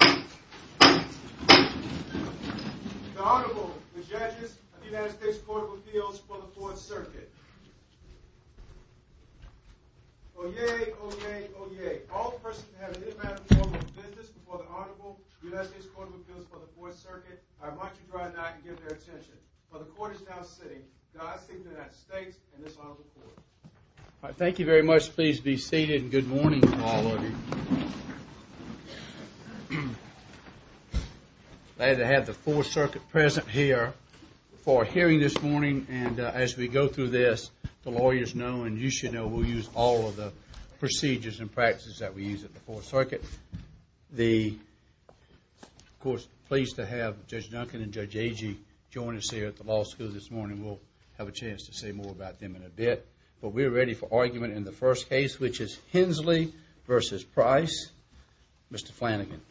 The Honorable, the Judges of the United States Court of Appeals for the Fourth Circuit. Oyez, oyez, oyez. All persons who have an inmate in the form of a business before the Honorable United States Court of Appeals for the Fourth Circuit, I remind you to dry that and give their attention. For the Court is now sitting, the House of Representatives of the United States and this Honorable Court. All right, thank you very much. Please be seated and good morning to all of you. Glad to have the Fourth Circuit present here for a hearing this morning and as we go through this, the lawyers know and you should know we'll use all of the procedures and practices that we use at the Fourth Circuit. Of course, pleased to have Judge Duncan and Judge Agee join us here at the law school this morning. We'll have a chance to say more about them in a bit. But we're ready for argument in the first case, which is Hensley v. Price. Mr. Flanagan.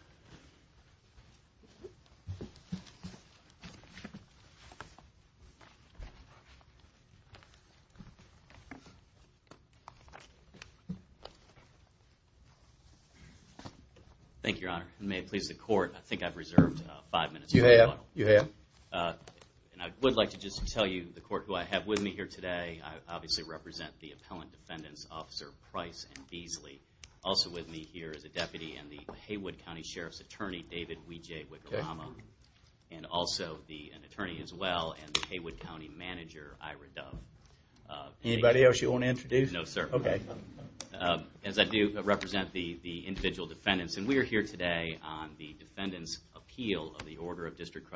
Thank you, Your Honor. And may it please the Court, I think I've reserved five minutes. You have, you have. And I would like to just tell you, the Court, who I have with me here today, I obviously represent the Appellant Defendants, Officer Price and Beasley. Also with me here is a deputy and the Haywood County Sheriff's Attorney, David Weejay-Wicolamo. And also an attorney as well and the Haywood County Manager, Ira Dove. Anybody else you want to introduce? No, sir. Okay. As I do represent the individual defendants, and we are here today on the defendant's appeal of the order of District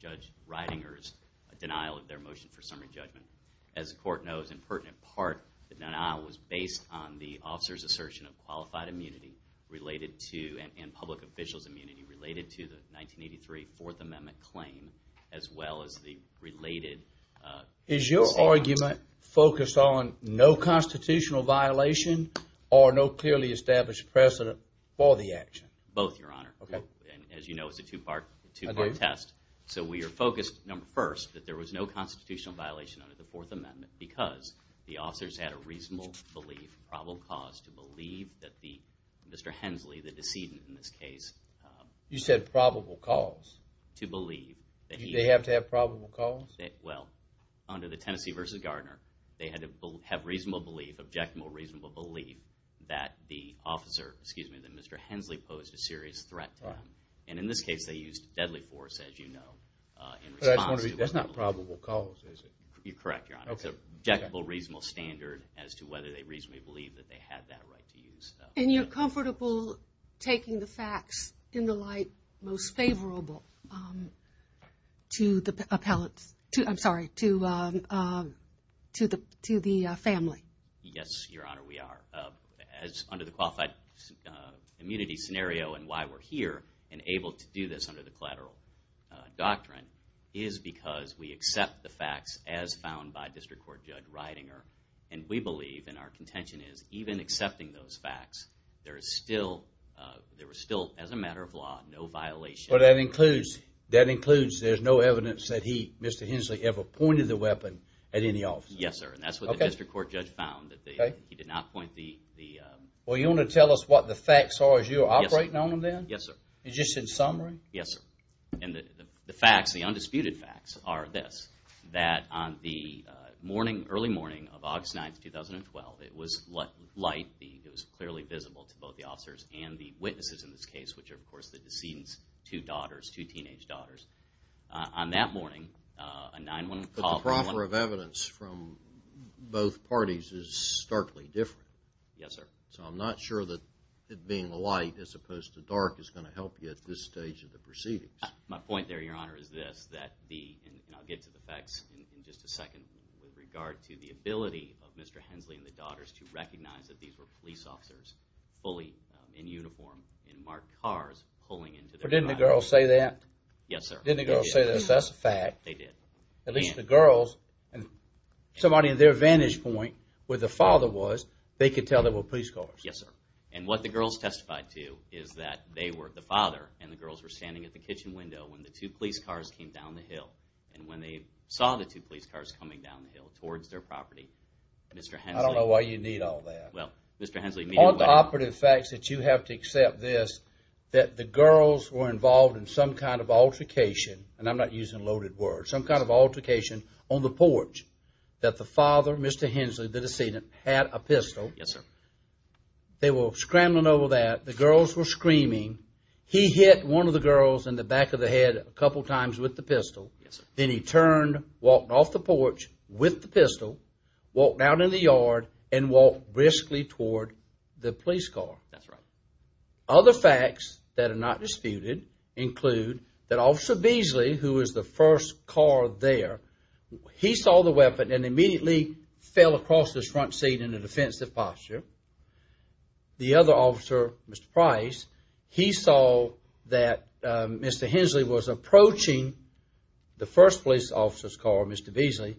Judge Reidinger's denial of their motion for summary judgment. As the Court knows, in pertinent part, the denial was based on the officer's assertion of qualified immunity related to, and public official's immunity related to, the 1983 Fourth Amendment claim as well as the related... Is your argument focused on no constitutional violation or no clearly established precedent for the action? Both, Your Honor. Okay. And as you know, it's a two-part test. I do. So we are focused, number first, that there was no constitutional violation under the Fourth Amendment because the officers had a reasonable belief, probable cause, to believe that the, Mr. Hensley, the decedent in this case... You said probable cause. To believe that he... Did they have to have probable cause? Well, under the Tennessee v. Gardner, they had to have reasonable belief, objectable reasonable belief, that the officer, excuse me, that Mr. Hensley posed a serious threat to them. Right. And in this case, they used deadly force, as you know, in response to... That's not probable cause, is it? You're correct, Your Honor. Okay. It's an objectable reasonable standard as to whether they reasonably believe that they had that right to use, though. And you're comfortable taking the facts in the light most favorable to the family? Yes, Your Honor, we are. Under the qualified immunity scenario and why we're here and able to do this under the collateral doctrine is because we accept the facts as found by District Court Judge Reidinger. And we believe, and our contention is, even accepting those facts, there is still, as a matter of law, no violation... But that includes, there's no evidence that he, Mr. Hensley, ever pointed the weapon at any officer. Yes, sir, and that's what the District Court Judge found. He did not point the... Well, you want to tell us what the facts are as you're operating on them? Yes, sir. Just in summary? Yes, sir. And the facts, the undisputed facts are this, that on the morning, early morning of August 9th, 2012, it was light, it was clearly visible to both the officers and the witnesses in this case, which are, of course, the decedent's two daughters, two teenage daughters. On that morning, a 9-1-1... But the proffer of evidence from both parties is starkly different. Yes, sir. So I'm not sure that it being light as opposed to dark is going to help you at this stage of the proceedings. My point there, Your Honor, is this, that the, and I'll get to the facts in just a second, with regard to the ability of Mr. Hensley and the daughters to recognize that these were police officers fully in uniform, in marked cars, pulling into their... But didn't the girls say that? Yes, sir. Didn't the girls say this? That's a fact. They did. At least the girls, and somebody in their vantage point, where the father was, they could tell they were police cars. Yes, sir. And what the girls testified to is that they were, the father and the girls, were standing at the kitchen window when the two police cars came down the hill. And when they saw the two police cars coming down the hill towards their property, Mr. Hensley... I don't know why you need all that. Well, Mr. Hensley... All the operative facts that you have to accept this, that the girls were involved in some kind of altercation, and I'm not using loaded words, some kind of altercation on the porch, that the father, Mr. Hensley, the decedent, had a pistol. Yes, sir. They were scrambling over that. The girls were screaming. He hit one of the girls in the back of the head a couple times with the pistol. Yes, sir. Then he turned, walked off the porch with the pistol, walked out in the yard, and walked briskly toward the police car. That's right. Other facts that are not disputed include that Officer Beasley, who was the first car there, he saw the weapon and immediately fell across the front seat in a defensive posture. The other officer, Mr. Price, he saw that Mr. Hensley was approaching the first police officer's car, Mr. Beasley,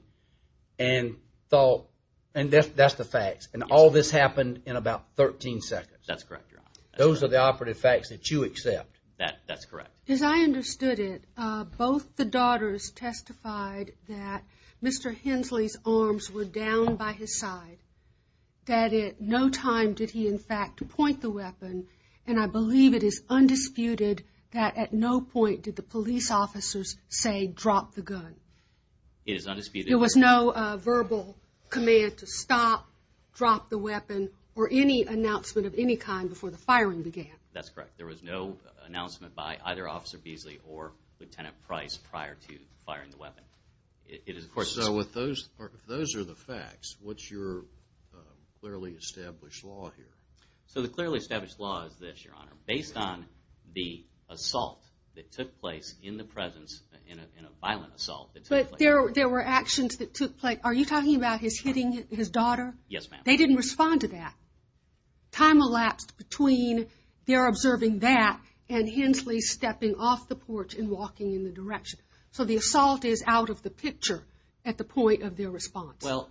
and thought, and that's the facts, and all this happened in about 13 seconds. That's correct, Your Honor. Those are the operative facts that you accept. That's correct. As I understood it, both the daughters testified that Mr. Hensley's arms were down by his side, that at no time did he, in fact, point the weapon, and I believe it is undisputed that at no point did the police officers say, drop the gun. It is undisputed. There was no verbal command to stop, drop the weapon, or any announcement of any kind before the firing began. That's correct. There was no announcement by either Officer Beasley or Lieutenant Price prior to firing the weapon. So if those are the facts, what's your clearly established law here? So the clearly established law is this, Your Honor. Based on the assault that took place in the presence, in a violent assault that took place. But there were actions that took place. Are you talking about his hitting his daughter? Yes, ma'am. They didn't respond to that. Time elapsed between their observing that and Hensley stepping off the porch and walking in the direction. So the assault is out of the picture at the point of their response. Well,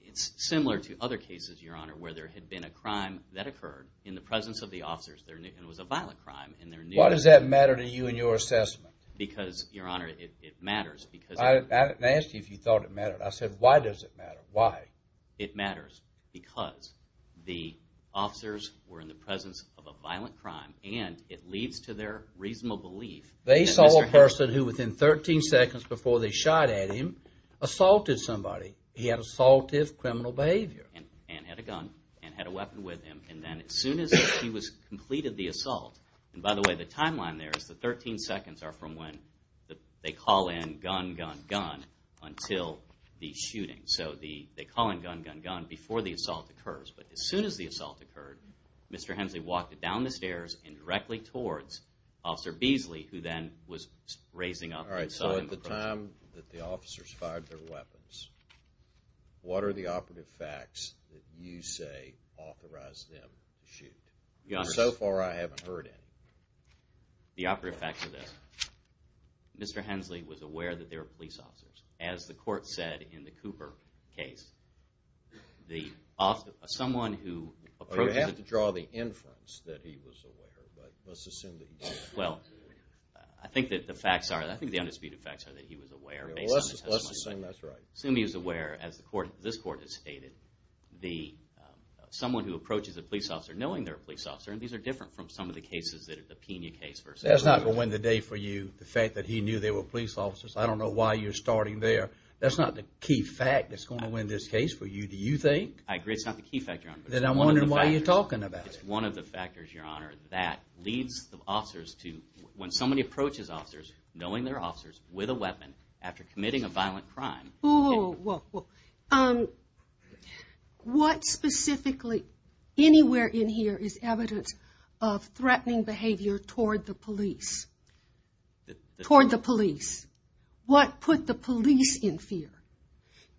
it's similar to other cases, Your Honor, where there had been a crime that occurred in the presence of the officers. It was a violent crime. Why does that matter to you in your assessment? Because, Your Honor, it matters. I didn't ask you if you thought it mattered. I said, why does it matter? Why? It matters because the officers were in the presence of a violent crime, and it leads to their reasonable belief. They saw a person who, within 13 seconds before they shot at him, assaulted somebody. He had assaultive criminal behavior. And had a gun and had a weapon with him, and then as soon as he was completed the assault, and by the way, the timeline there is the 13 seconds are from when they call in, gun, gun, gun, until the shooting. So they call in, gun, gun, gun, before the assault occurs. But as soon as the assault occurred, Mr. Hensley walked down the stairs and directly towards Officer Beasley, who then was raising up and saw him approach him. All right, so at the time that the officers fired their weapons, what are the operative facts that you say authorized them to shoot? So far, I haven't heard any. The operative facts are this. Mr. Hensley was aware that there were police officers. As the court said in the Cooper case, the officer, someone who approached him. You have to draw the inference that he was aware, but let's assume that he was aware. Well, I think that the facts are, I think the undisputed facts are that he was aware based on the testimony. Let's assume that's right. Assume he was aware, as this court has stated, someone who approaches a police officer knowing they're a police officer, and these are different from some of the cases, the Pena case versus Cooper. That's not going to win the day for you, the fact that he knew there were police officers. I don't know why you're starting there. That's not the key fact that's going to win this case for you, do you think? I agree it's not the key fact, Your Honor. Then I'm wondering why you're talking about it. It's one of the factors, Your Honor, that leads the officers to, when somebody approaches officers knowing they're officers with a weapon after committing a violent crime. Whoa, whoa, whoa. What specifically, anywhere in here is evidence of threatening behavior toward the police? Toward the police. What put the police in fear?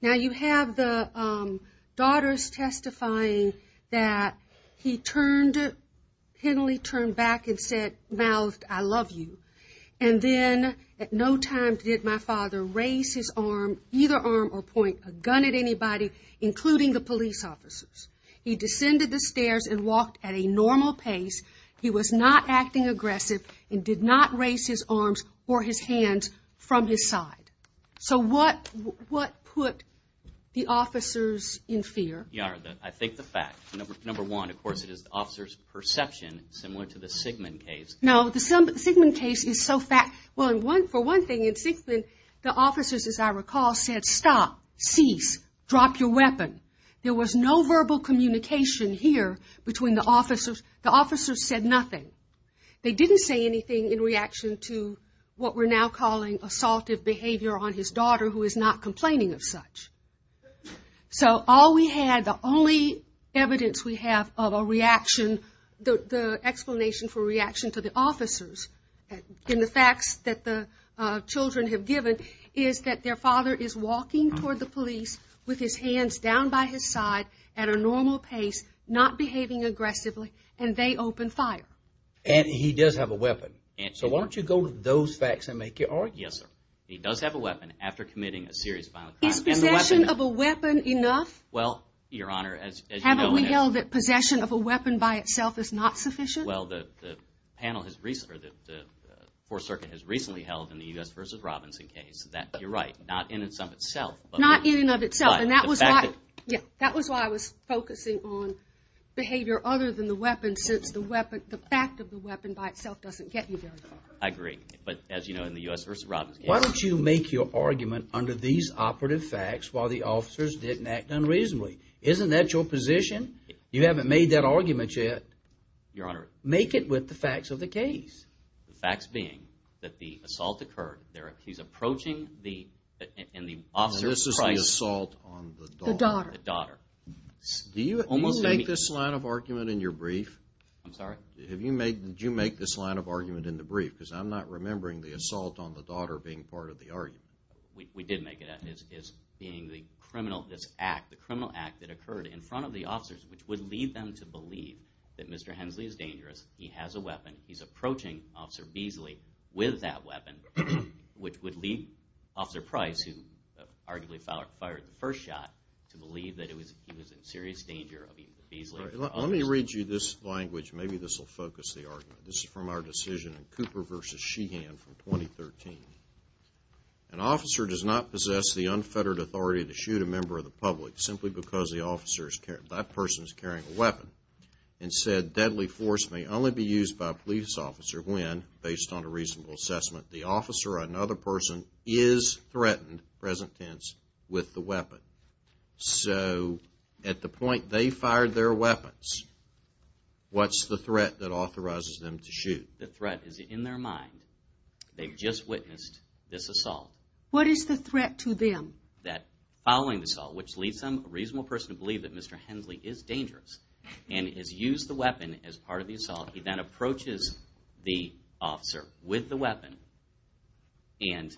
Now, you have the daughters testifying that he turned, pinnally turned back and said, mouthed, I love you. And then at no time did my father raise his arm, either arm or point a gun at anybody, including the police officers. He descended the stairs and walked at a normal pace. He was not acting aggressive and did not raise his arms or his hands from his side. So what put the officers in fear? Your Honor, I think the fact, number one, of course, it is the officer's perception, similar to the Sigmund case. No, the Sigmund case is so fact. Well, for one thing, in Sigmund, the officers, as I recall, said stop, cease, drop your weapon. There was no verbal communication here between the officers. The officers said nothing. They didn't say anything in reaction to what we're now calling assaultive behavior on his daughter, who is not complaining of such. So all we had, the only evidence we have of a reaction, the explanation for reaction to the officers in the facts that the children have given, is that their father is walking toward the police with his hands down by his side at a normal pace, not behaving aggressively, and they open fire. And he does have a weapon. So why don't you go to those facts and make your argument? Yes, sir. He does have a weapon after committing a serious violent crime. Is possession of a weapon enough? Well, Your Honor, as you know, you recall that possession of a weapon by itself is not sufficient? Well, the panel has recently, or the Fourth Circuit has recently held in the U.S. v. Robinson case that you're right, not in and of itself. Not in and of itself, and that was why I was focusing on behavior other than the weapon since the fact of the weapon by itself doesn't get you very far. I agree, but as you know, in the U.S. v. Robinson case. Why don't you make your argument under these operative facts while the officers didn't act unreasonably? Isn't that your position? You haven't made that argument yet. Your Honor. Make it with the facts of the case. The facts being that the assault occurred. He's approaching the officer's wife. This is the assault on the daughter. The daughter. Do you make this line of argument in your brief? I'm sorry? Did you make this line of argument in the brief? Because I'm not remembering the assault on the daughter being part of the argument. We did make it. This act, the criminal act that occurred in front of the officers, which would lead them to believe that Mr. Hensley is dangerous. He has a weapon. He's approaching Officer Beasley with that weapon, which would lead Officer Price, who arguably fired the first shot, to believe that he was in serious danger of Beasley. Let me read you this language. Maybe this will focus the argument. This is from our decision in Cooper v. Sheehan from 2013. An officer does not possess the unfettered authority to shoot a member of the public simply because that person is carrying a weapon. Instead, deadly force may only be used by a police officer when, based on a reasonable assessment, the officer or another person is threatened, present tense, with the weapon. So, at the point they fired their weapons, what's the threat that authorizes them to shoot? The threat is in their mind. They've just witnessed this assault. What is the threat to them? That following the assault, which leads them, a reasonable person, to believe that Mr. Hensley is dangerous and has used the weapon as part of the assault, he then approaches the officer with the weapon and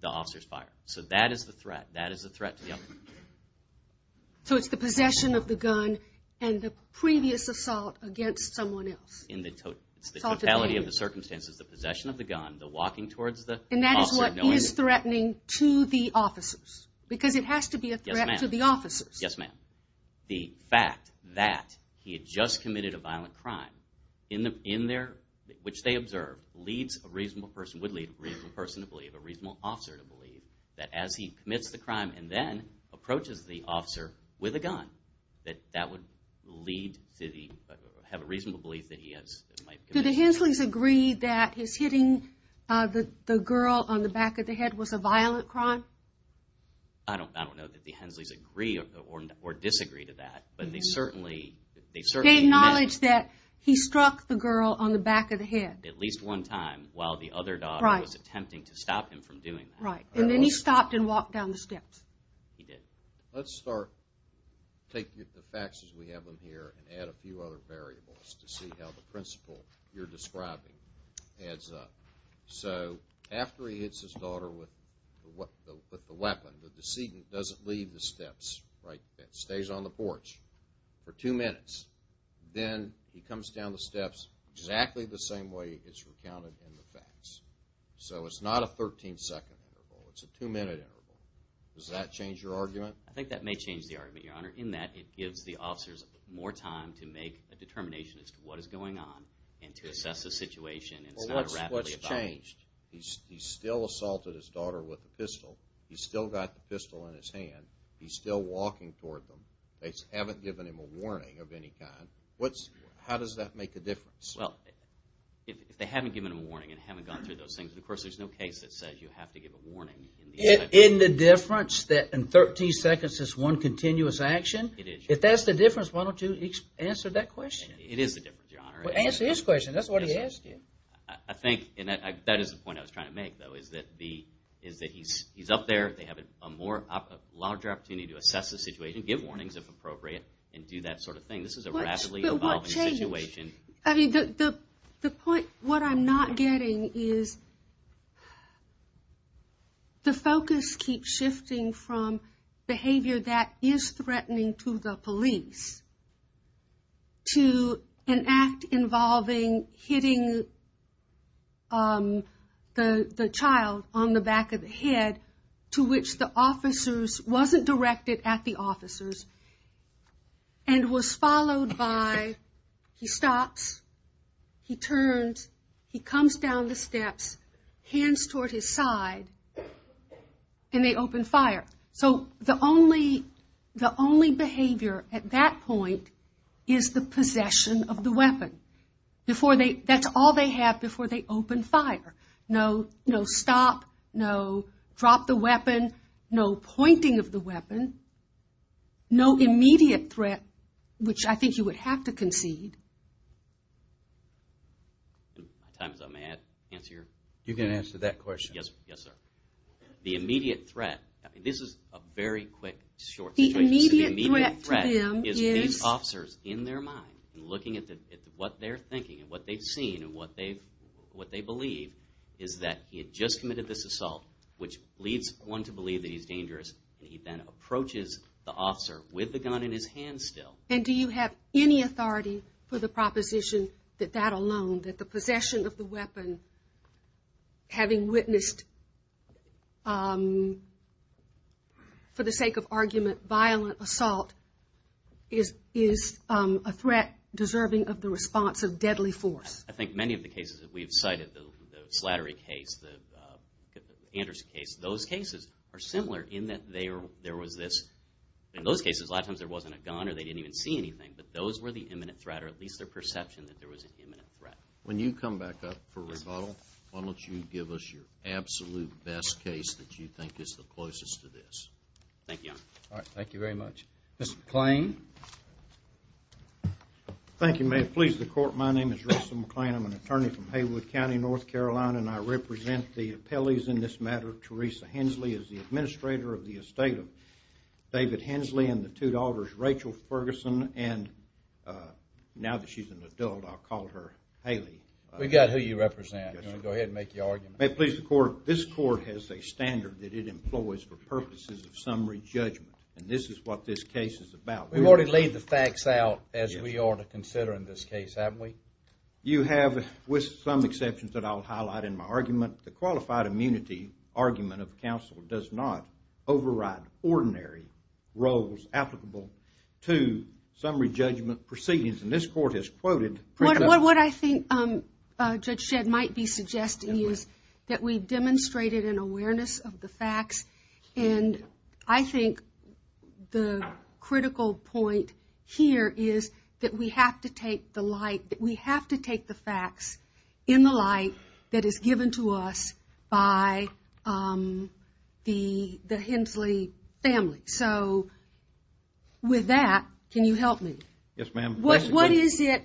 the officers fire. So that is the threat. That is the threat to the other. So it's the possession of the gun and the previous assault against someone else. In the totality of the circumstances, the possession of the gun, the walking towards the officer. And that is what he is threatening to the officers because it has to be a threat to the officers. Yes, ma'am. The fact that he had just committed a violent crime, which they observed, would lead a reasonable person to believe, a reasonable officer to believe, that as he commits the crime and then approaches the officer with a gun, that would have a reasonable belief that he is. Do the Hensleys agree that his hitting the girl on the back of the head was a violent crime? I don't know that the Hensleys agree or disagree to that. But they certainly admit. They acknowledge that he struck the girl on the back of the head. At least one time while the other daughter was attempting to stop him from doing that. Right. And then he stopped and walked down the steps. He did. Let's start, take the facts as we have them here, and add a few other variables to see how the principle you're describing adds up. So after he hits his daughter with the weapon, the decedent doesn't leave the steps. It stays on the porch for two minutes. Then he comes down the steps exactly the same way it's recounted in the facts. So it's not a 13-second interval. It's a two-minute interval. Does that change your argument? I think that may change the argument, Your Honor, in that it gives the officers more time to make a determination as to what is going on and to assess the situation. Well, what's changed? He still assaulted his daughter with the pistol. He's still got the pistol in his hand. He's still walking toward them. They haven't given him a warning of any kind. How does that make a difference? Well, if they haven't given him a warning and haven't gone through those things, of course there's no case that says you have to give a warning. In the difference that in 13 seconds it's one continuous action? If that's the difference, why don't you answer that question? It is the difference, Your Honor. Well, answer his question. That's what he asked you. I think that is the point I was trying to make, though, is that he's up there. They have a larger opportunity to assess the situation, give warnings if appropriate, and do that sort of thing. This is a rapidly evolving situation. The point what I'm not getting is the focus keeps shifting from behavior that is threatening to the police to an act involving hitting the child on the back of the head to which the officers wasn't directed at the officers and was followed by he stops, he turns, he comes down the steps, hands toward his side, and they open fire. So the only behavior at that point is the possession of the weapon. That's all they have before they open fire. No stop, no drop the weapon, no pointing of the weapon, no immediate threat, which I think you would have to concede. My time is up. May I answer your question? You can answer that question. Yes, sir. The immediate threat, this is a very quick, short situation. The immediate threat to them is these officers in their mind, looking at what they're thinking and what they've seen and what they believe, is that he had just committed this assault, which leads one to believe that he's dangerous, and he then approaches the officer with the gun in his hand still. And do you have any authority for the proposition that that alone, that the possession of the weapon, having witnessed, for the sake of argument, violent assault, is a threat deserving of the response of deadly force? I think many of the cases that we've cited, the Slattery case, the Anderson case, those cases are similar in that there was this. In those cases, a lot of times there wasn't a gun or they didn't even see anything, but those were the imminent threat or at least their perception that there was an imminent threat. When you come back up for rebuttal, why don't you give us your absolute best case that you think is the closest to this? Thank you, Your Honor. All right. Thank you very much. Mr. McClain. Thank you. May it please the Court. My name is Russell McClain. I'm an attorney from Haywood County, North Carolina, and I represent the appellees in this matter. Teresa Hensley is the administrator of the estate of David Hensley and the two daughters, Rachel Ferguson, and now that she's an adult, I'll call her Haley. We've got who you represent. Go ahead and make your argument. May it please the Court. This Court has a standard that it employs for purposes of summary judgment, and this is what this case is about. We've already laid the facts out as we are to consider in this case, haven't we? You have, with some exceptions that I'll highlight in my argument, the qualified immunity argument of counsel does not override ordinary roles applicable to summary judgment proceedings, and this Court has quoted. What I think Judge Shedd might be suggesting is that we demonstrated an awareness of the facts, and I think the critical point here is that we have to take the light, that we have to take the facts in the light that is given to us by the Hensley family. So with that, can you help me? Yes, ma'am. What is it?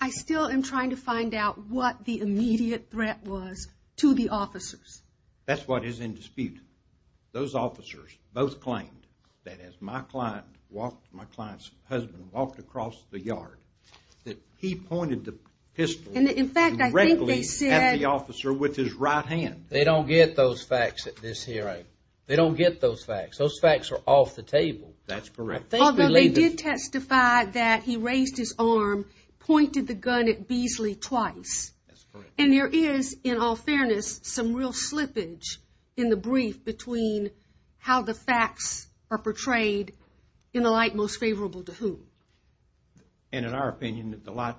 I still am trying to find out what the immediate threat was to the officers. That's what is in dispute. Those officers both claimed that as my client's husband walked across the yard, that he pointed the pistol directly at the officer with his right hand. They don't get those facts at this hearing. They don't get those facts. Those facts are off the table. That's correct. Although they did testify that he raised his arm, pointed the gun at Beasley twice, and there is, in all fairness, some real slippage in the brief between how the facts are portrayed in the light most favorable to whom. And in our opinion, the light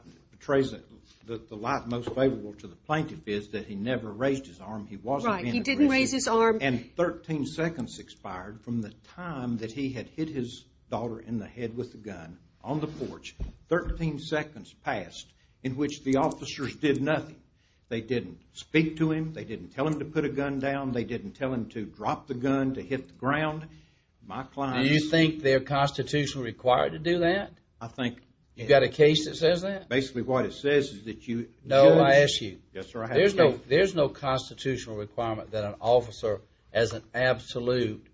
most favorable to the plaintiff is that he never raised his arm. He wasn't being aggressive. Right. He didn't raise his arm. And 13 seconds expired from the time that he had hit his daughter in the head with the gun on the porch. Thirteen seconds passed in which the officers did nothing. They didn't speak to him. They didn't tell him to put a gun down. They didn't tell him to drop the gun, to hit the ground. My client. Do you think they're constitutionally required to do that? I think. You've got a case that says that? Basically what it says is that you judge. No, I ask you. Yes, sir, I have to speak. There's no constitutional requirement that an officer as an absolute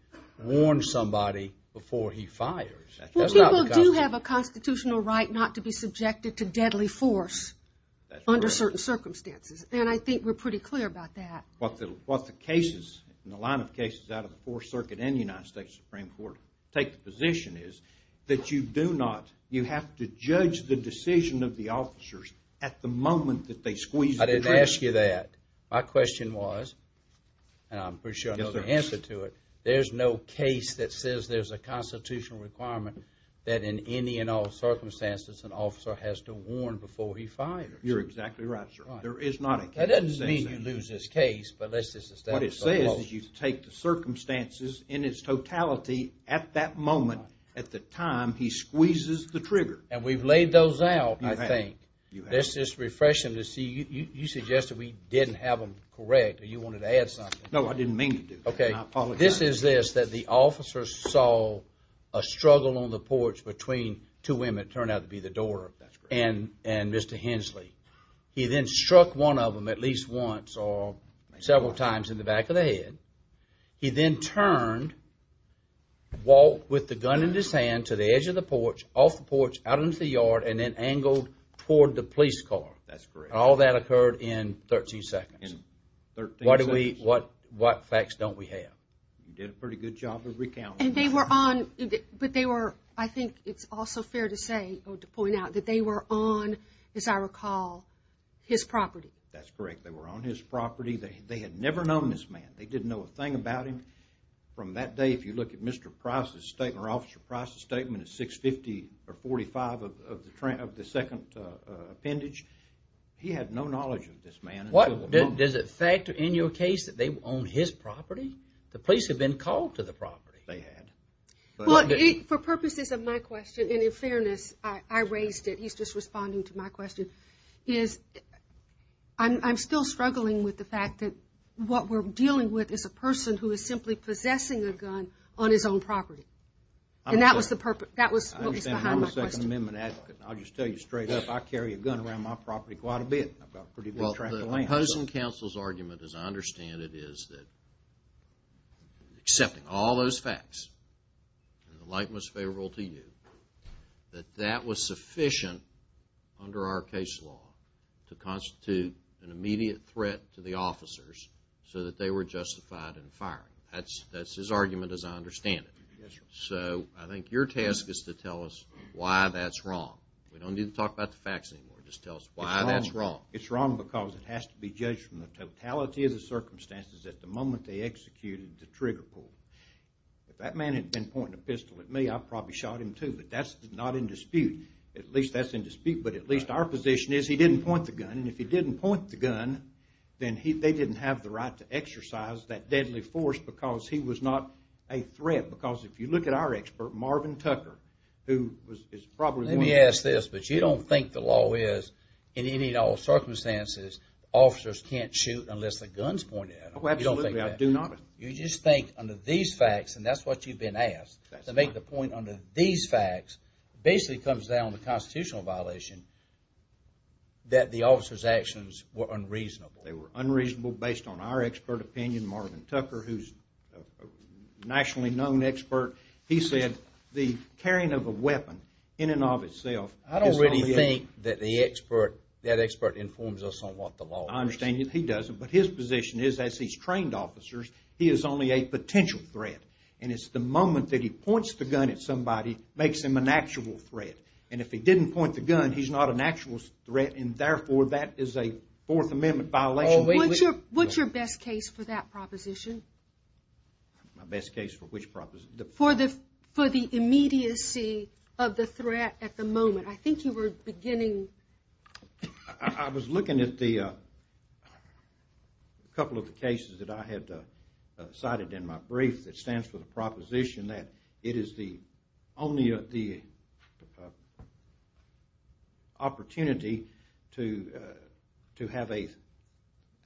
warn somebody before he fires. Well, people do have a constitutional right not to be subjected to deadly force under certain circumstances. And I think we're pretty clear about that. What the cases in the line of cases out of the Fourth Circuit and the United States Supreme Court take the position is that you do not, you have to judge the decision of the officers at the moment that they squeeze the trigger. I didn't ask you that. My question was, and I'm pretty sure I know the answer to it, there's no case that says there's a constitutional requirement that in any and all circumstances an officer has to warn before he fires. You're exactly right, sir. There is not a case that says that. That doesn't mean you lose this case, but let's just establish that. What it says is you take the circumstances in its totality at that moment at the time he squeezes the trigger. And we've laid those out, I think. You have. Let's just refresh them to see. You suggested we didn't have them correct. You wanted to add something. No, I didn't mean to do that. Okay. This is this, that the officers saw a struggle on the porch between two women. It turned out to be the daughter and Mr. Hensley. He then struck one of them at least once or several times in the back of the head. He then turned, walked with the gun in his hand to the edge of the porch, off the porch, out into the yard, and then angled toward the police car. That's correct. And all that occurred in 13 seconds. In 13 seconds. What facts don't we have? You did a pretty good job of recounting. And they were on, but they were, I think it's also fair to say, or to point out, that they were on, as I recall, his property. That's correct. They were on his property. They had never known this man. They didn't know a thing about him. From that day, if you look at Mr. Price's statement or Officer Price's statement at 650 or 45 of the second appendage, he had no knowledge of this man. Does it factor in your case that they were on his property? The police had been called to the property. They had. Well, for purposes of my question, and in fairness, I raised it. He's just responding to my question. I'm still struggling with the fact that what we're dealing with is a person who is simply possessing a gun on his own property. And that was the purpose. That was what was behind my question. I understand. I'm a Second Amendment advocate. I'll just tell you straight up. I carry a gun around my property quite a bit. I've got a pretty good track of land. Well, the opposing counsel's argument, as I understand it, is that accepting all those facts, and the light was favorable to you, that that was sufficient under our case law to constitute an immediate threat to the officers so that they were justified in firing. That's his argument, as I understand it. Yes, sir. So, I think your task is to tell us why that's wrong. We don't need to talk about the facts anymore. Just tell us why that's wrong. It's wrong because it has to be judged from the totality of the circumstances at the moment they executed the trigger pull. If that man had been pointing a pistol at me, I probably shot him too. But that's not in dispute. At least that's in dispute. But at least our position is he didn't point the gun. And if he didn't point the gun, then they didn't have the right to exercise that deadly force because he was not a threat. Because if you look at our expert, Marvin Tucker, who is probably one of the most in any and all circumstances, officers can't shoot unless the gun's pointed at them. You don't think that? Oh, absolutely. I do not. You just think under these facts, and that's what you've been asked, to make the point under these facts, basically comes down to constitutional violation, that the officers' actions were unreasonable. They were unreasonable based on our expert opinion, Marvin Tucker, who's a nationally known expert. He said the carrying of a weapon in and of itself is not a given. I don't think that the expert informs us on what the law is. I understand he doesn't, but his position is, as he's trained officers, he is only a potential threat. And it's the moment that he points the gun at somebody makes him an actual threat. And if he didn't point the gun, he's not an actual threat, and therefore that is a Fourth Amendment violation. What's your best case for that proposition? My best case for which proposition? For the immediacy of the threat at the moment. I think you were beginning... I was looking at a couple of the cases that I had cited in my brief that stands for the proposition that it is only the opportunity to have an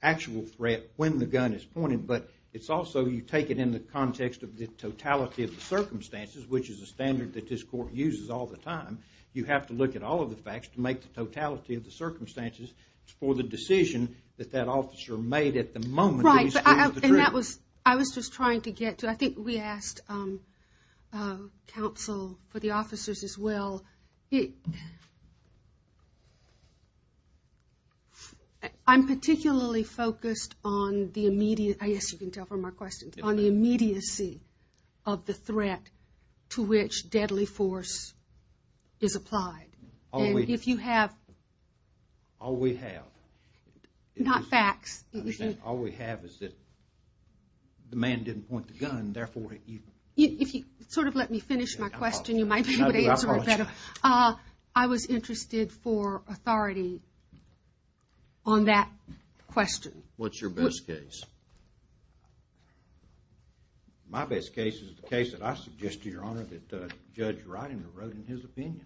actual threat when the gun is pointed, but it's also you take it in the context of the totality of the circumstances, which is a standard that this court uses all the time. You have to look at all of the facts to make the totality of the circumstances for the decision that that officer made at the moment... Right, and that was... I was just trying to get to... I think we asked counsel for the officers as well. I'm particularly focused on the immediate... I guess you can tell from my questions... on the immediacy of the threat to which deadly force is applied. And if you have... All we have... Not facts. All we have is that the man didn't point the gun, therefore... If you sort of let me finish my question, you might be able to answer it better. I was interested for authority on that question. What's your best case? My best case is the case that I suggested, Your Honor, that Judge Ridinger wrote in his opinion,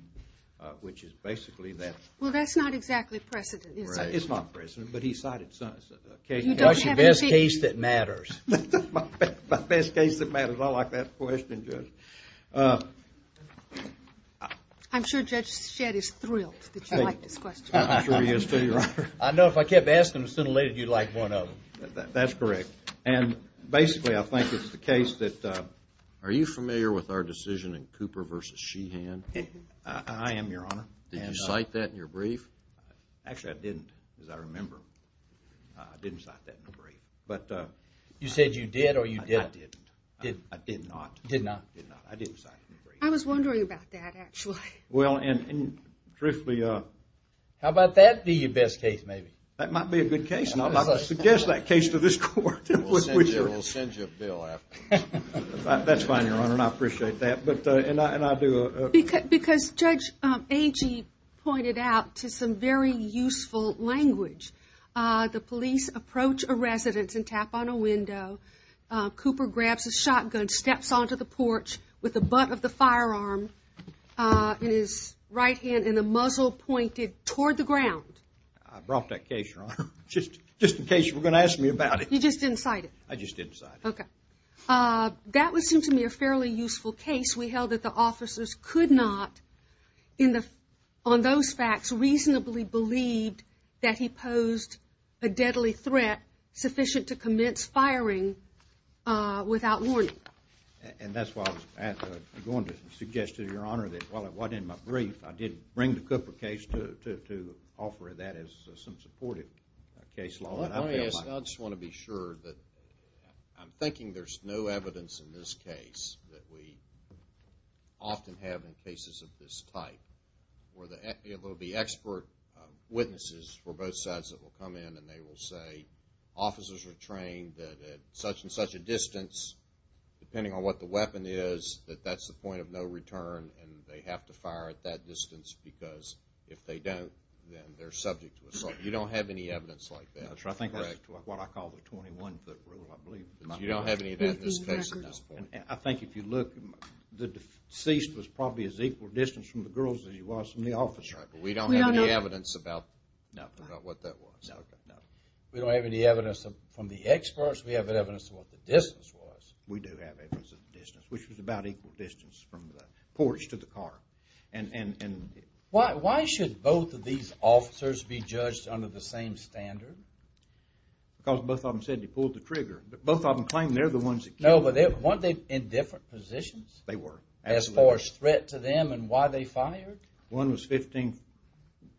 which is basically that... Well, that's not exactly precedent, is it? It's not precedent, but he cited... What's your best case that matters? My best case that matters. I like that question, Judge. I'm sure Judge Shedd is thrilled that you like this question. I'm sure he is too, Your Honor. I know. If I kept asking him sooner or later, he'd like one of them. That's correct. And basically, I think it's the case that... Are you familiar with our decision in Cooper v. Sheehan? I am, Your Honor. Did you cite that in your brief? Actually, I didn't, as I remember. I didn't cite that in the brief. You said you did or you didn't? I didn't. I did not. You did not? I did not. I didn't cite it in the brief. I was wondering about that, actually. Well, and truthfully... How about that be your best case, maybe? That might be a good case. And I'd like to suggest that case to this Court. We'll send you a bill afterwards. That's fine, Your Honor, and I appreciate that. And I do... Because Judge Agee pointed out to some very useful language, the police approach a residence and tap on a window. Cooper grabs a shotgun, steps onto the porch with the butt of the firearm in his right hand and the muzzle pointed toward the ground. I brought that case, Your Honor, just in case you were going to ask me about it. You just didn't cite it? I just didn't cite it. Okay. That would seem to me a fairly useful case. We held that the officers could not, on those facts, reasonably believe that he posed a deadly threat sufficient to commence firing without warning. And that's why I was going to suggest to Your Honor that while it wasn't in my brief, I did bring the Cooper case to offer that as some supportive case law. I just want to be sure that I'm thinking there's no evidence in this case that we often have in cases of this type where there will be expert witnesses for both sides that will come in and they will say, officers are trained that at such and such a distance, depending on what the weapon is, that that's the point of no return and they have to fire at that distance because if they don't, then they're subject to assault. You don't have any evidence like that. That's what I call the 21-foot rule, I believe. You don't have any of that in this case at this point. I think if you look, the deceased was probably as equal distance from the girls as he was from the officer. We don't have any evidence about what that was. We don't have any evidence from the experts. We have evidence of what the distance was. We do have evidence of the distance, which was about equal distance from the porch to the car. Why should both of these officers be judged under the same standard? Because both of them said they pulled the trigger. Both of them claim they're the ones that killed him. No, but weren't they in different positions? They were. As far as threat to them and why they fired? One was 15,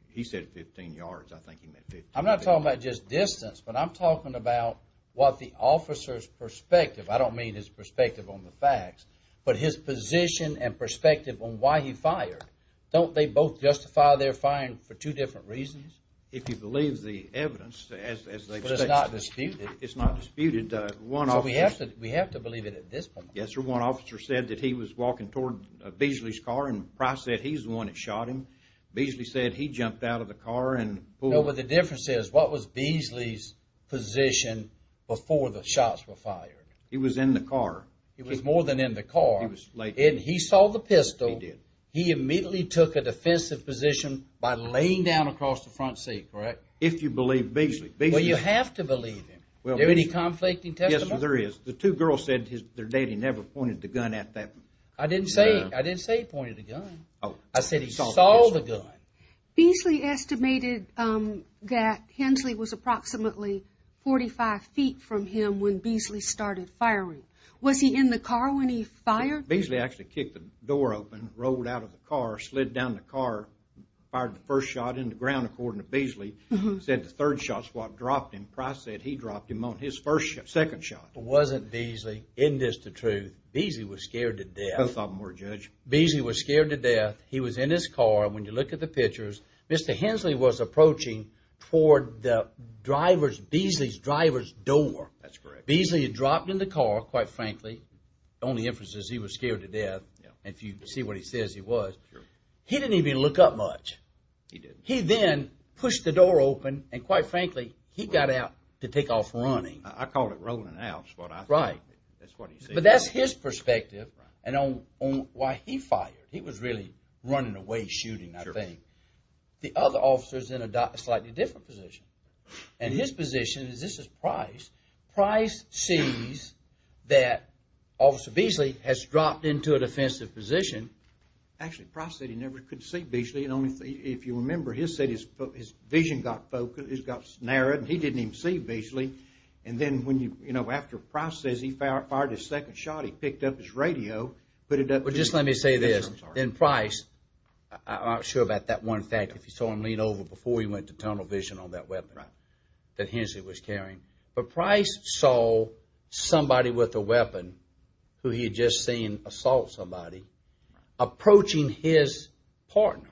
he said 15 yards. I think he meant 15. I'm not talking about just distance, but I'm talking about what the officer's perspective, I don't mean his perspective on the facts, but his position and perspective on why he fired. Don't they both justify their firing for two different reasons? If you believe the evidence, as they've said. But it's not disputed? It's not disputed. We have to believe it at this point. Yes, sir. One officer said that he was walking toward Beasley's car, and Price said he's the one that shot him. Beasley said he jumped out of the car and pulled. No, but the difference is, what was Beasley's position before the shots were fired? He was in the car. He was more than in the car. And he saw the pistol. He did. He immediately took a defensive position by laying down across the front seat, correct? If you believe Beasley. Well, you have to believe him. Is there any conflicting testimony? Yes, sir, there is. The two girls said their daddy never pointed the gun at them. I didn't say he pointed a gun. I said he saw the gun. Beasley estimated that Hensley was approximately 45 feet from him when Beasley started firing. Was he in the car when he fired? Beasley actually kicked the door open, rolled out of the car, slid down the car, fired the first shot in the ground, according to Beasley. He said the third shot's what dropped him. Price said he dropped him on his first shot, second shot. It wasn't Beasley. Isn't this the truth? Beasley was scared to death. Both of them were, Judge. Beasley was scared to death. He was in his car. When you look at the pictures, Mr. Hensley was approaching toward Beasley's driver's door. That's correct. Beasley had dropped in the car, quite frankly. The only inference is he was scared to death. If you see what he says, he was. He didn't even look up much. He didn't. He then pushed the door open, and quite frankly, he got out to take off running. I call it rolling out is what I think. Right. But that's his perspective. Right. And on why he fired, he was really running away shooting, I think. The other officer's in a slightly different position, and his position is this is Price. Price sees that Officer Beasley has dropped into a defensive position. Actually, Price said he never could see Beasley. If you remember, his vision got narrowed, and he didn't even see Beasley. And then after Price says he fired his second shot, he picked up his radio, put it up to Beasley. Well, just let me say this. In Price, I'm not sure about that one fact. If you saw him lean over before he went to tunnel vision on that weapon that Hensley was carrying, but Price saw somebody with a weapon who he had just seen assault somebody approaching his partner's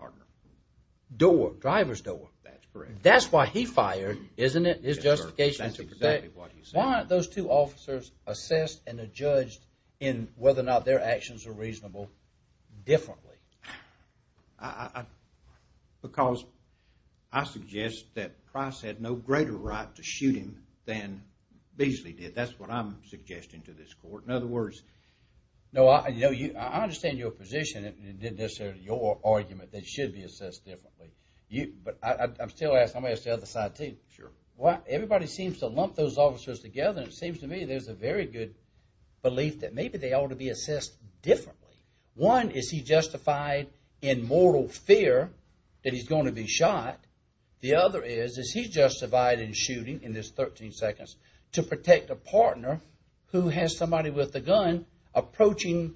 door, driver's door. That's correct. That's why he fired, isn't it? His justification is to protect. That's exactly what he said. Why aren't those two officers assessed and judged in whether or not their actions are reasonable differently? Because I suggest that Price had no greater right to shoot him than Beasley did. That's what I'm suggesting to this court. In other words, no, I understand your position. It isn't necessarily your argument that it should be assessed differently. But I'm still going to ask the other side, too. Sure. Everybody seems to lump those officers together, and it seems to me there's a very good belief that maybe they ought to be assessed differently. One, is he justified in mortal fear that he's going to be shot? The other is, is he justified in shooting, in this 13 seconds, to protect a partner who has somebody with a gun approaching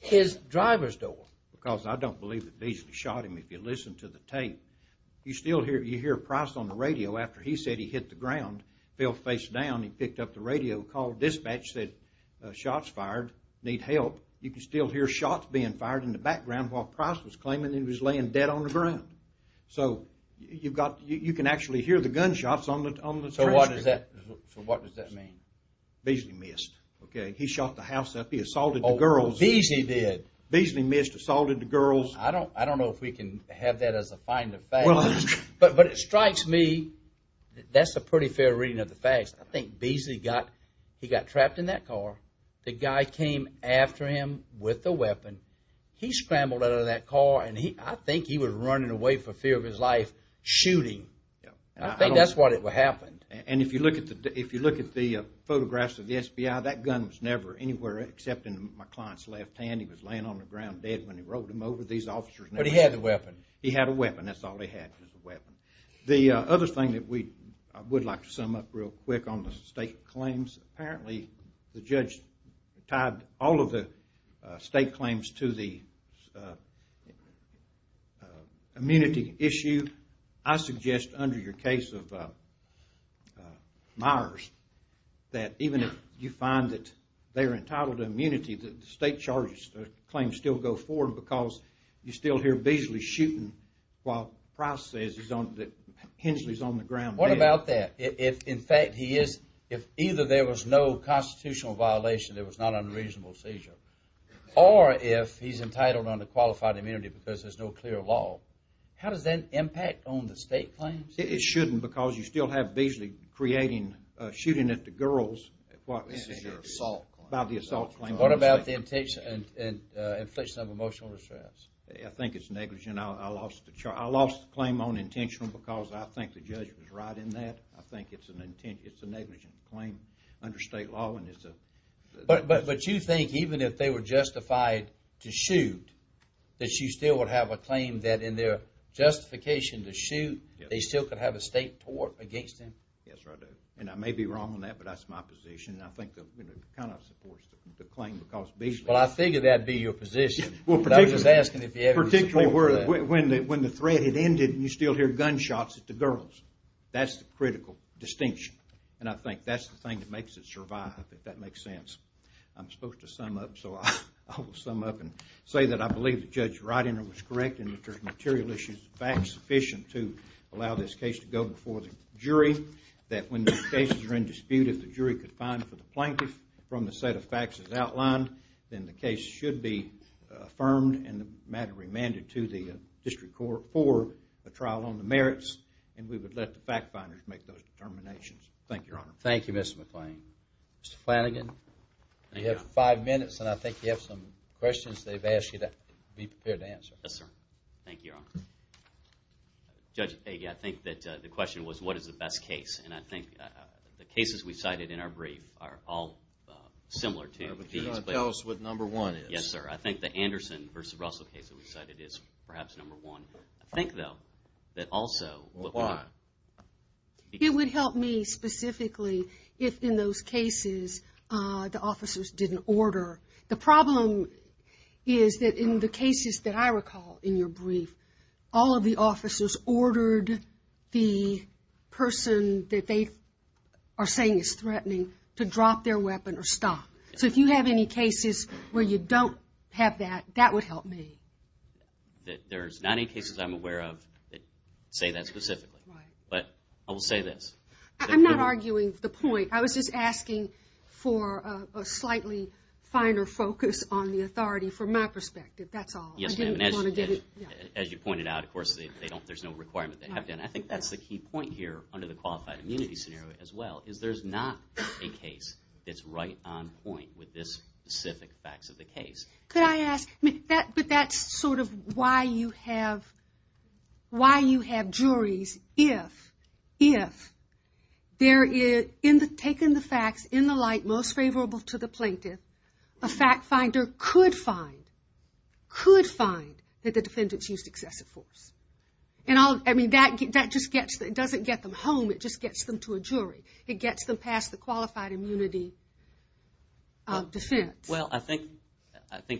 his driver's door? Because I don't believe that Beasley shot him. If you listen to the tape, you still hear Price on the radio. After he said he hit the ground, fell face down, he picked up the radio, called dispatch, said shots fired, need help. You can still hear shots being fired in the background while Price was claiming he was laying dead on the ground. So you can actually hear the gunshots on the trailer. So what does that mean? Beasley missed. He shot the house up. He assaulted the girls. Beasley did. Beasley missed, assaulted the girls. I don't know if we can have that as a find of facts. But it strikes me that that's a pretty fair reading of the facts. I think Beasley got trapped in that car. The guy came after him with a weapon. He scrambled out of that car, and I think he was running away for fear of his life, shooting. I think that's what happened. And if you look at the photographs of the SBI, that gun was never anywhere except in my client's left hand. He was laying on the ground dead when he rolled him over. These officers never did. But he had the weapon. He had a weapon. That's all he had was a weapon. The other thing that we would like to sum up real quick on the state claims, apparently the judge tied all of the state claims to the immunity issue. I suggest under your case of Myers that even if you find that they're entitled to immunity, the state charges claim still go forward because you still hear Beasley shooting while Price says Hensley's on the ground dead. What about that? In fact, if either there was no constitutional violation, there was not an unreasonable seizure, or if he's entitled under qualified immunity because there's no clear law, how does that impact on the state claims? It shouldn't because you still have Beasley shooting at the girls by the assault claim. What about the infliction of emotional distress? I think it's negligent. I lost the claim on intentional because I think the judge was right in that. I think it's a negligent claim under state law. But you think even if they were justified to shoot, that you still would have a claim that in their justification to shoot, they still could have a state tort against them? Yes, sir, I do. And I may be wrong on that, but that's my position. And I think the count-off supports the claim because Beasley Well, I figured that would be your position. I was just asking if you had any support for that. Particularly when the threat had ended and you still hear gunshots at the girls. That's the critical distinction. And I think that's the thing that makes it survive, if that makes sense. I'm supposed to sum up, so I will sum up and say that I believe the judge's writing was correct and that there's material issues, facts sufficient to allow this case to go before the jury, that when the cases are in dispute, if the jury could find for the plaintiff from the set of facts as outlined, then the case should be affirmed and the matter remanded to the district court for a trial on the merits and we would let the fact finders make those determinations. Thank you, Your Honor. Thank you, Mr. McClain. Mr. Flanagan, you have five minutes and I think you have some questions they've asked you to be prepared to answer. Yes, sir. Thank you, Your Honor. Judge Peggy, I think that the question was what is the best case, and I think the cases we cited in our brief are all similar to these. Tell us what number one is. Yes, sir. I think the Anderson v. Russell case that we cited is perhaps number one. I think, though, that also... Why? It would help me specifically if in those cases the officers didn't order. The problem is that in the cases that I recall in your brief, all of the officers ordered the person that they are saying is threatening to drop their weapon or stop. So if you have any cases where you don't have that, that would help me. There's not any cases I'm aware of that say that specifically. But I will say this. I'm not arguing the point. I was just asking for a slightly finer focus on the authority from my perspective. That's all. Yes, ma'am. As you pointed out, of course, there's no requirement they have to. I think that's the key point here under the qualified immunity scenario as well is there's not a case that's right on point with this specific facts of the case. Could I ask? But that's sort of why you have juries if there is, taken the facts in the light most favorable to the plaintiff, a fact finder could find that the defendants used excessive force. That just doesn't get them home. It just gets them to a jury. It gets them past the qualified immunity defense. Well, I think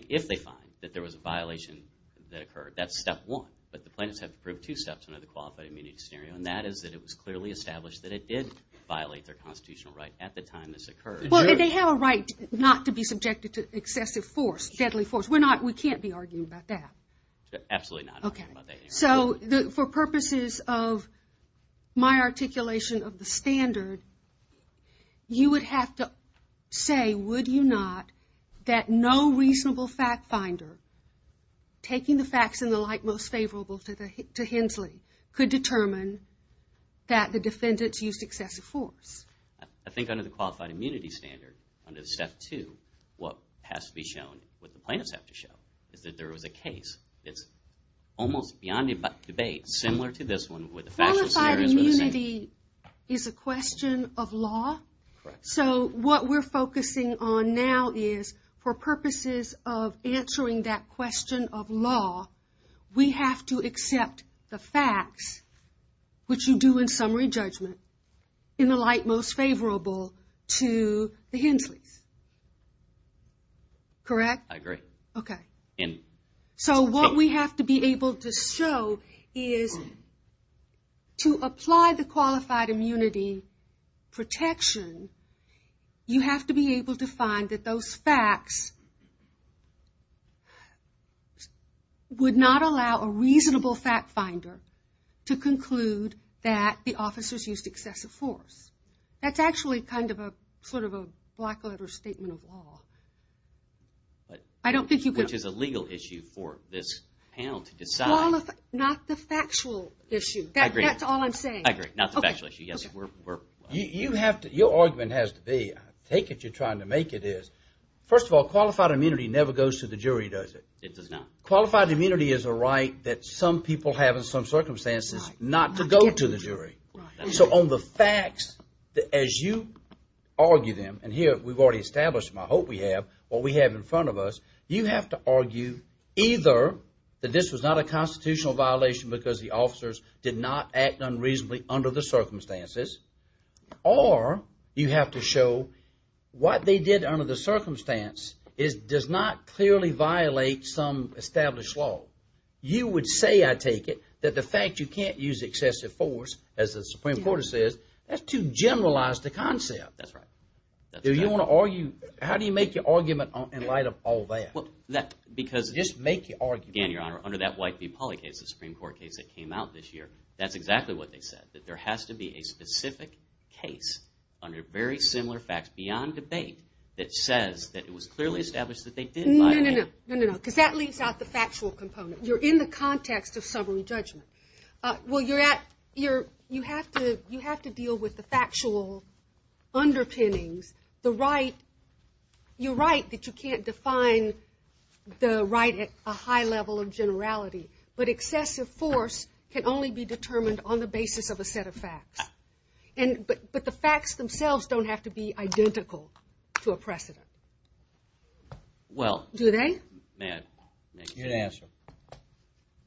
if they find that there was a violation that occurred, that's step one. But the plaintiffs have to prove two steps under the qualified immunity scenario, and that is that it was clearly established that it did violate their constitutional right at the time this occurred. Well, they have a right not to be subjected to excessive force, deadly force. We can't be arguing about that. Absolutely not. Okay. So for purposes of my articulation of the standard, you would have to say, would you not, that no reasonable fact finder, taking the facts in the light most favorable to Hensley, could determine that the defendants used excessive force. I think under the qualified immunity standard, under step two, what has to be shown, what the plaintiffs have to show, is that there was a case that's almost beyond debate, similar to this one, where the factual scenarios were the same. Qualified immunity is a question of law. Correct. So what we're focusing on now is, for purposes of answering that question of law, we have to accept the facts, which you do in summary judgment, in the light most favorable to the Hensleys. Correct? I agree. Okay. So what we have to be able to show is, to apply the qualified immunity protection, you have to be able to find that those facts would not allow a reasonable fact finder to conclude that the officers used excessive force. That's actually kind of a, sort of a black letter statement of law. I don't think you could. Which is a legal issue for this panel to decide. Not the factual issue. I agree. That's all I'm saying. I agree. Not the factual issue. Your argument has to be, I take it you're trying to make it is, first of all, qualified immunity never goes to the jury, does it? It does not. Qualified immunity is a right that some people have in some circumstances not to go to the jury. So on the facts, as you argue them, and here we've already established them, and I hope we have, what we have in front of us, you have to argue either that this was not a constitutional violation because the officers did not act unreasonably under the circumstances, or you have to show what they did under the circumstance does not clearly violate some established law. You would say, I take it, that the fact you can't use excessive force, as the Supreme Court says, that's too generalized a concept. That's right. How do you make your argument in light of all that? Just make your argument. Again, Your Honor, under that White v. Polley case, the Supreme Court case that came out this year, that's exactly what they said, that there has to be a specific case under very similar facts beyond debate that says that it was clearly established that they did violate. No, no, no, because that leaves out the factual component. You're in the context of summary judgment. Well, you have to deal with the factual underpinnings. You're right that you can't define the right at a high level of generality, but excessive force can only be determined on the basis of a set of facts. But the facts themselves don't have to be identical to a precedent. Do they? May I? You're to answer.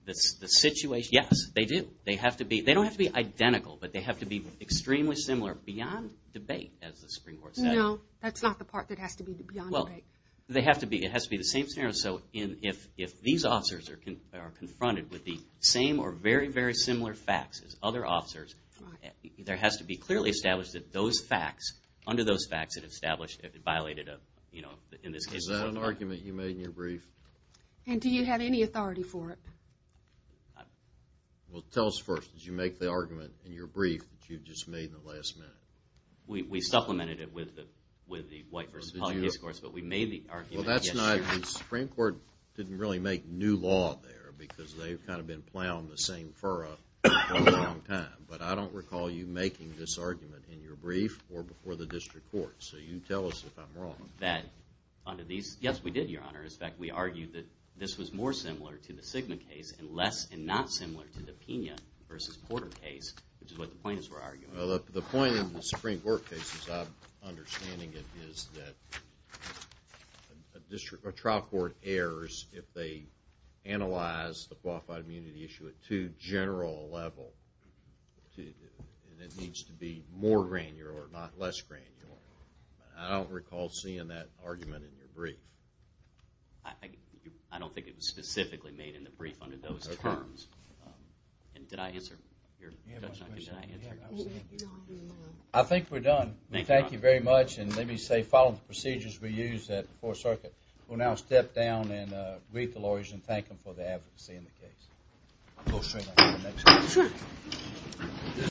The situation? Yes, they do. They have to be. They don't have to be identical, but they have to be extremely similar beyond debate, as the Supreme Court said. No, that's not the part that has to be beyond debate. Well, they have to be. It has to be the same scenario. So if these officers are confronted with the same or very, very similar facts as other officers, there has to be clearly established that those facts, under those facts, it established it violated a, you know, in this case. Is that an argument you made in your brief? And do you have any authority for it? Well, tell us first. Did you make the argument in your brief that you just made in the last minute? We supplemented it with the white versus public discourse, but we made the argument. Well, that's not, the Supreme Court didn't really make new law there because they've kind of been plowing the same furrow for a long time. But I don't recall you making this argument in your brief or before the district court, so you tell us if I'm wrong. That under these, yes, we did, Your Honor. In fact, we argued that this was more similar to the Sigma case and less and not similar to the Pena versus Porter case, which is what the plaintiffs were arguing. Well, the point of the Supreme Court case, as I'm understanding it, is that a district or trial court errors if they analyze the qualified immunity issue at too general a level. And it needs to be more granular, not less granular. I don't recall seeing that argument in your brief. I don't think it was specifically made in the brief under those terms. Did I answer your question? I think we're done. Thank you very much, and let me say, following the procedures we used at the Fourth Circuit, we'll now step down and greet the lawyers and thank them for their advocacy in the case. I'll go straight on to the next case. Sure.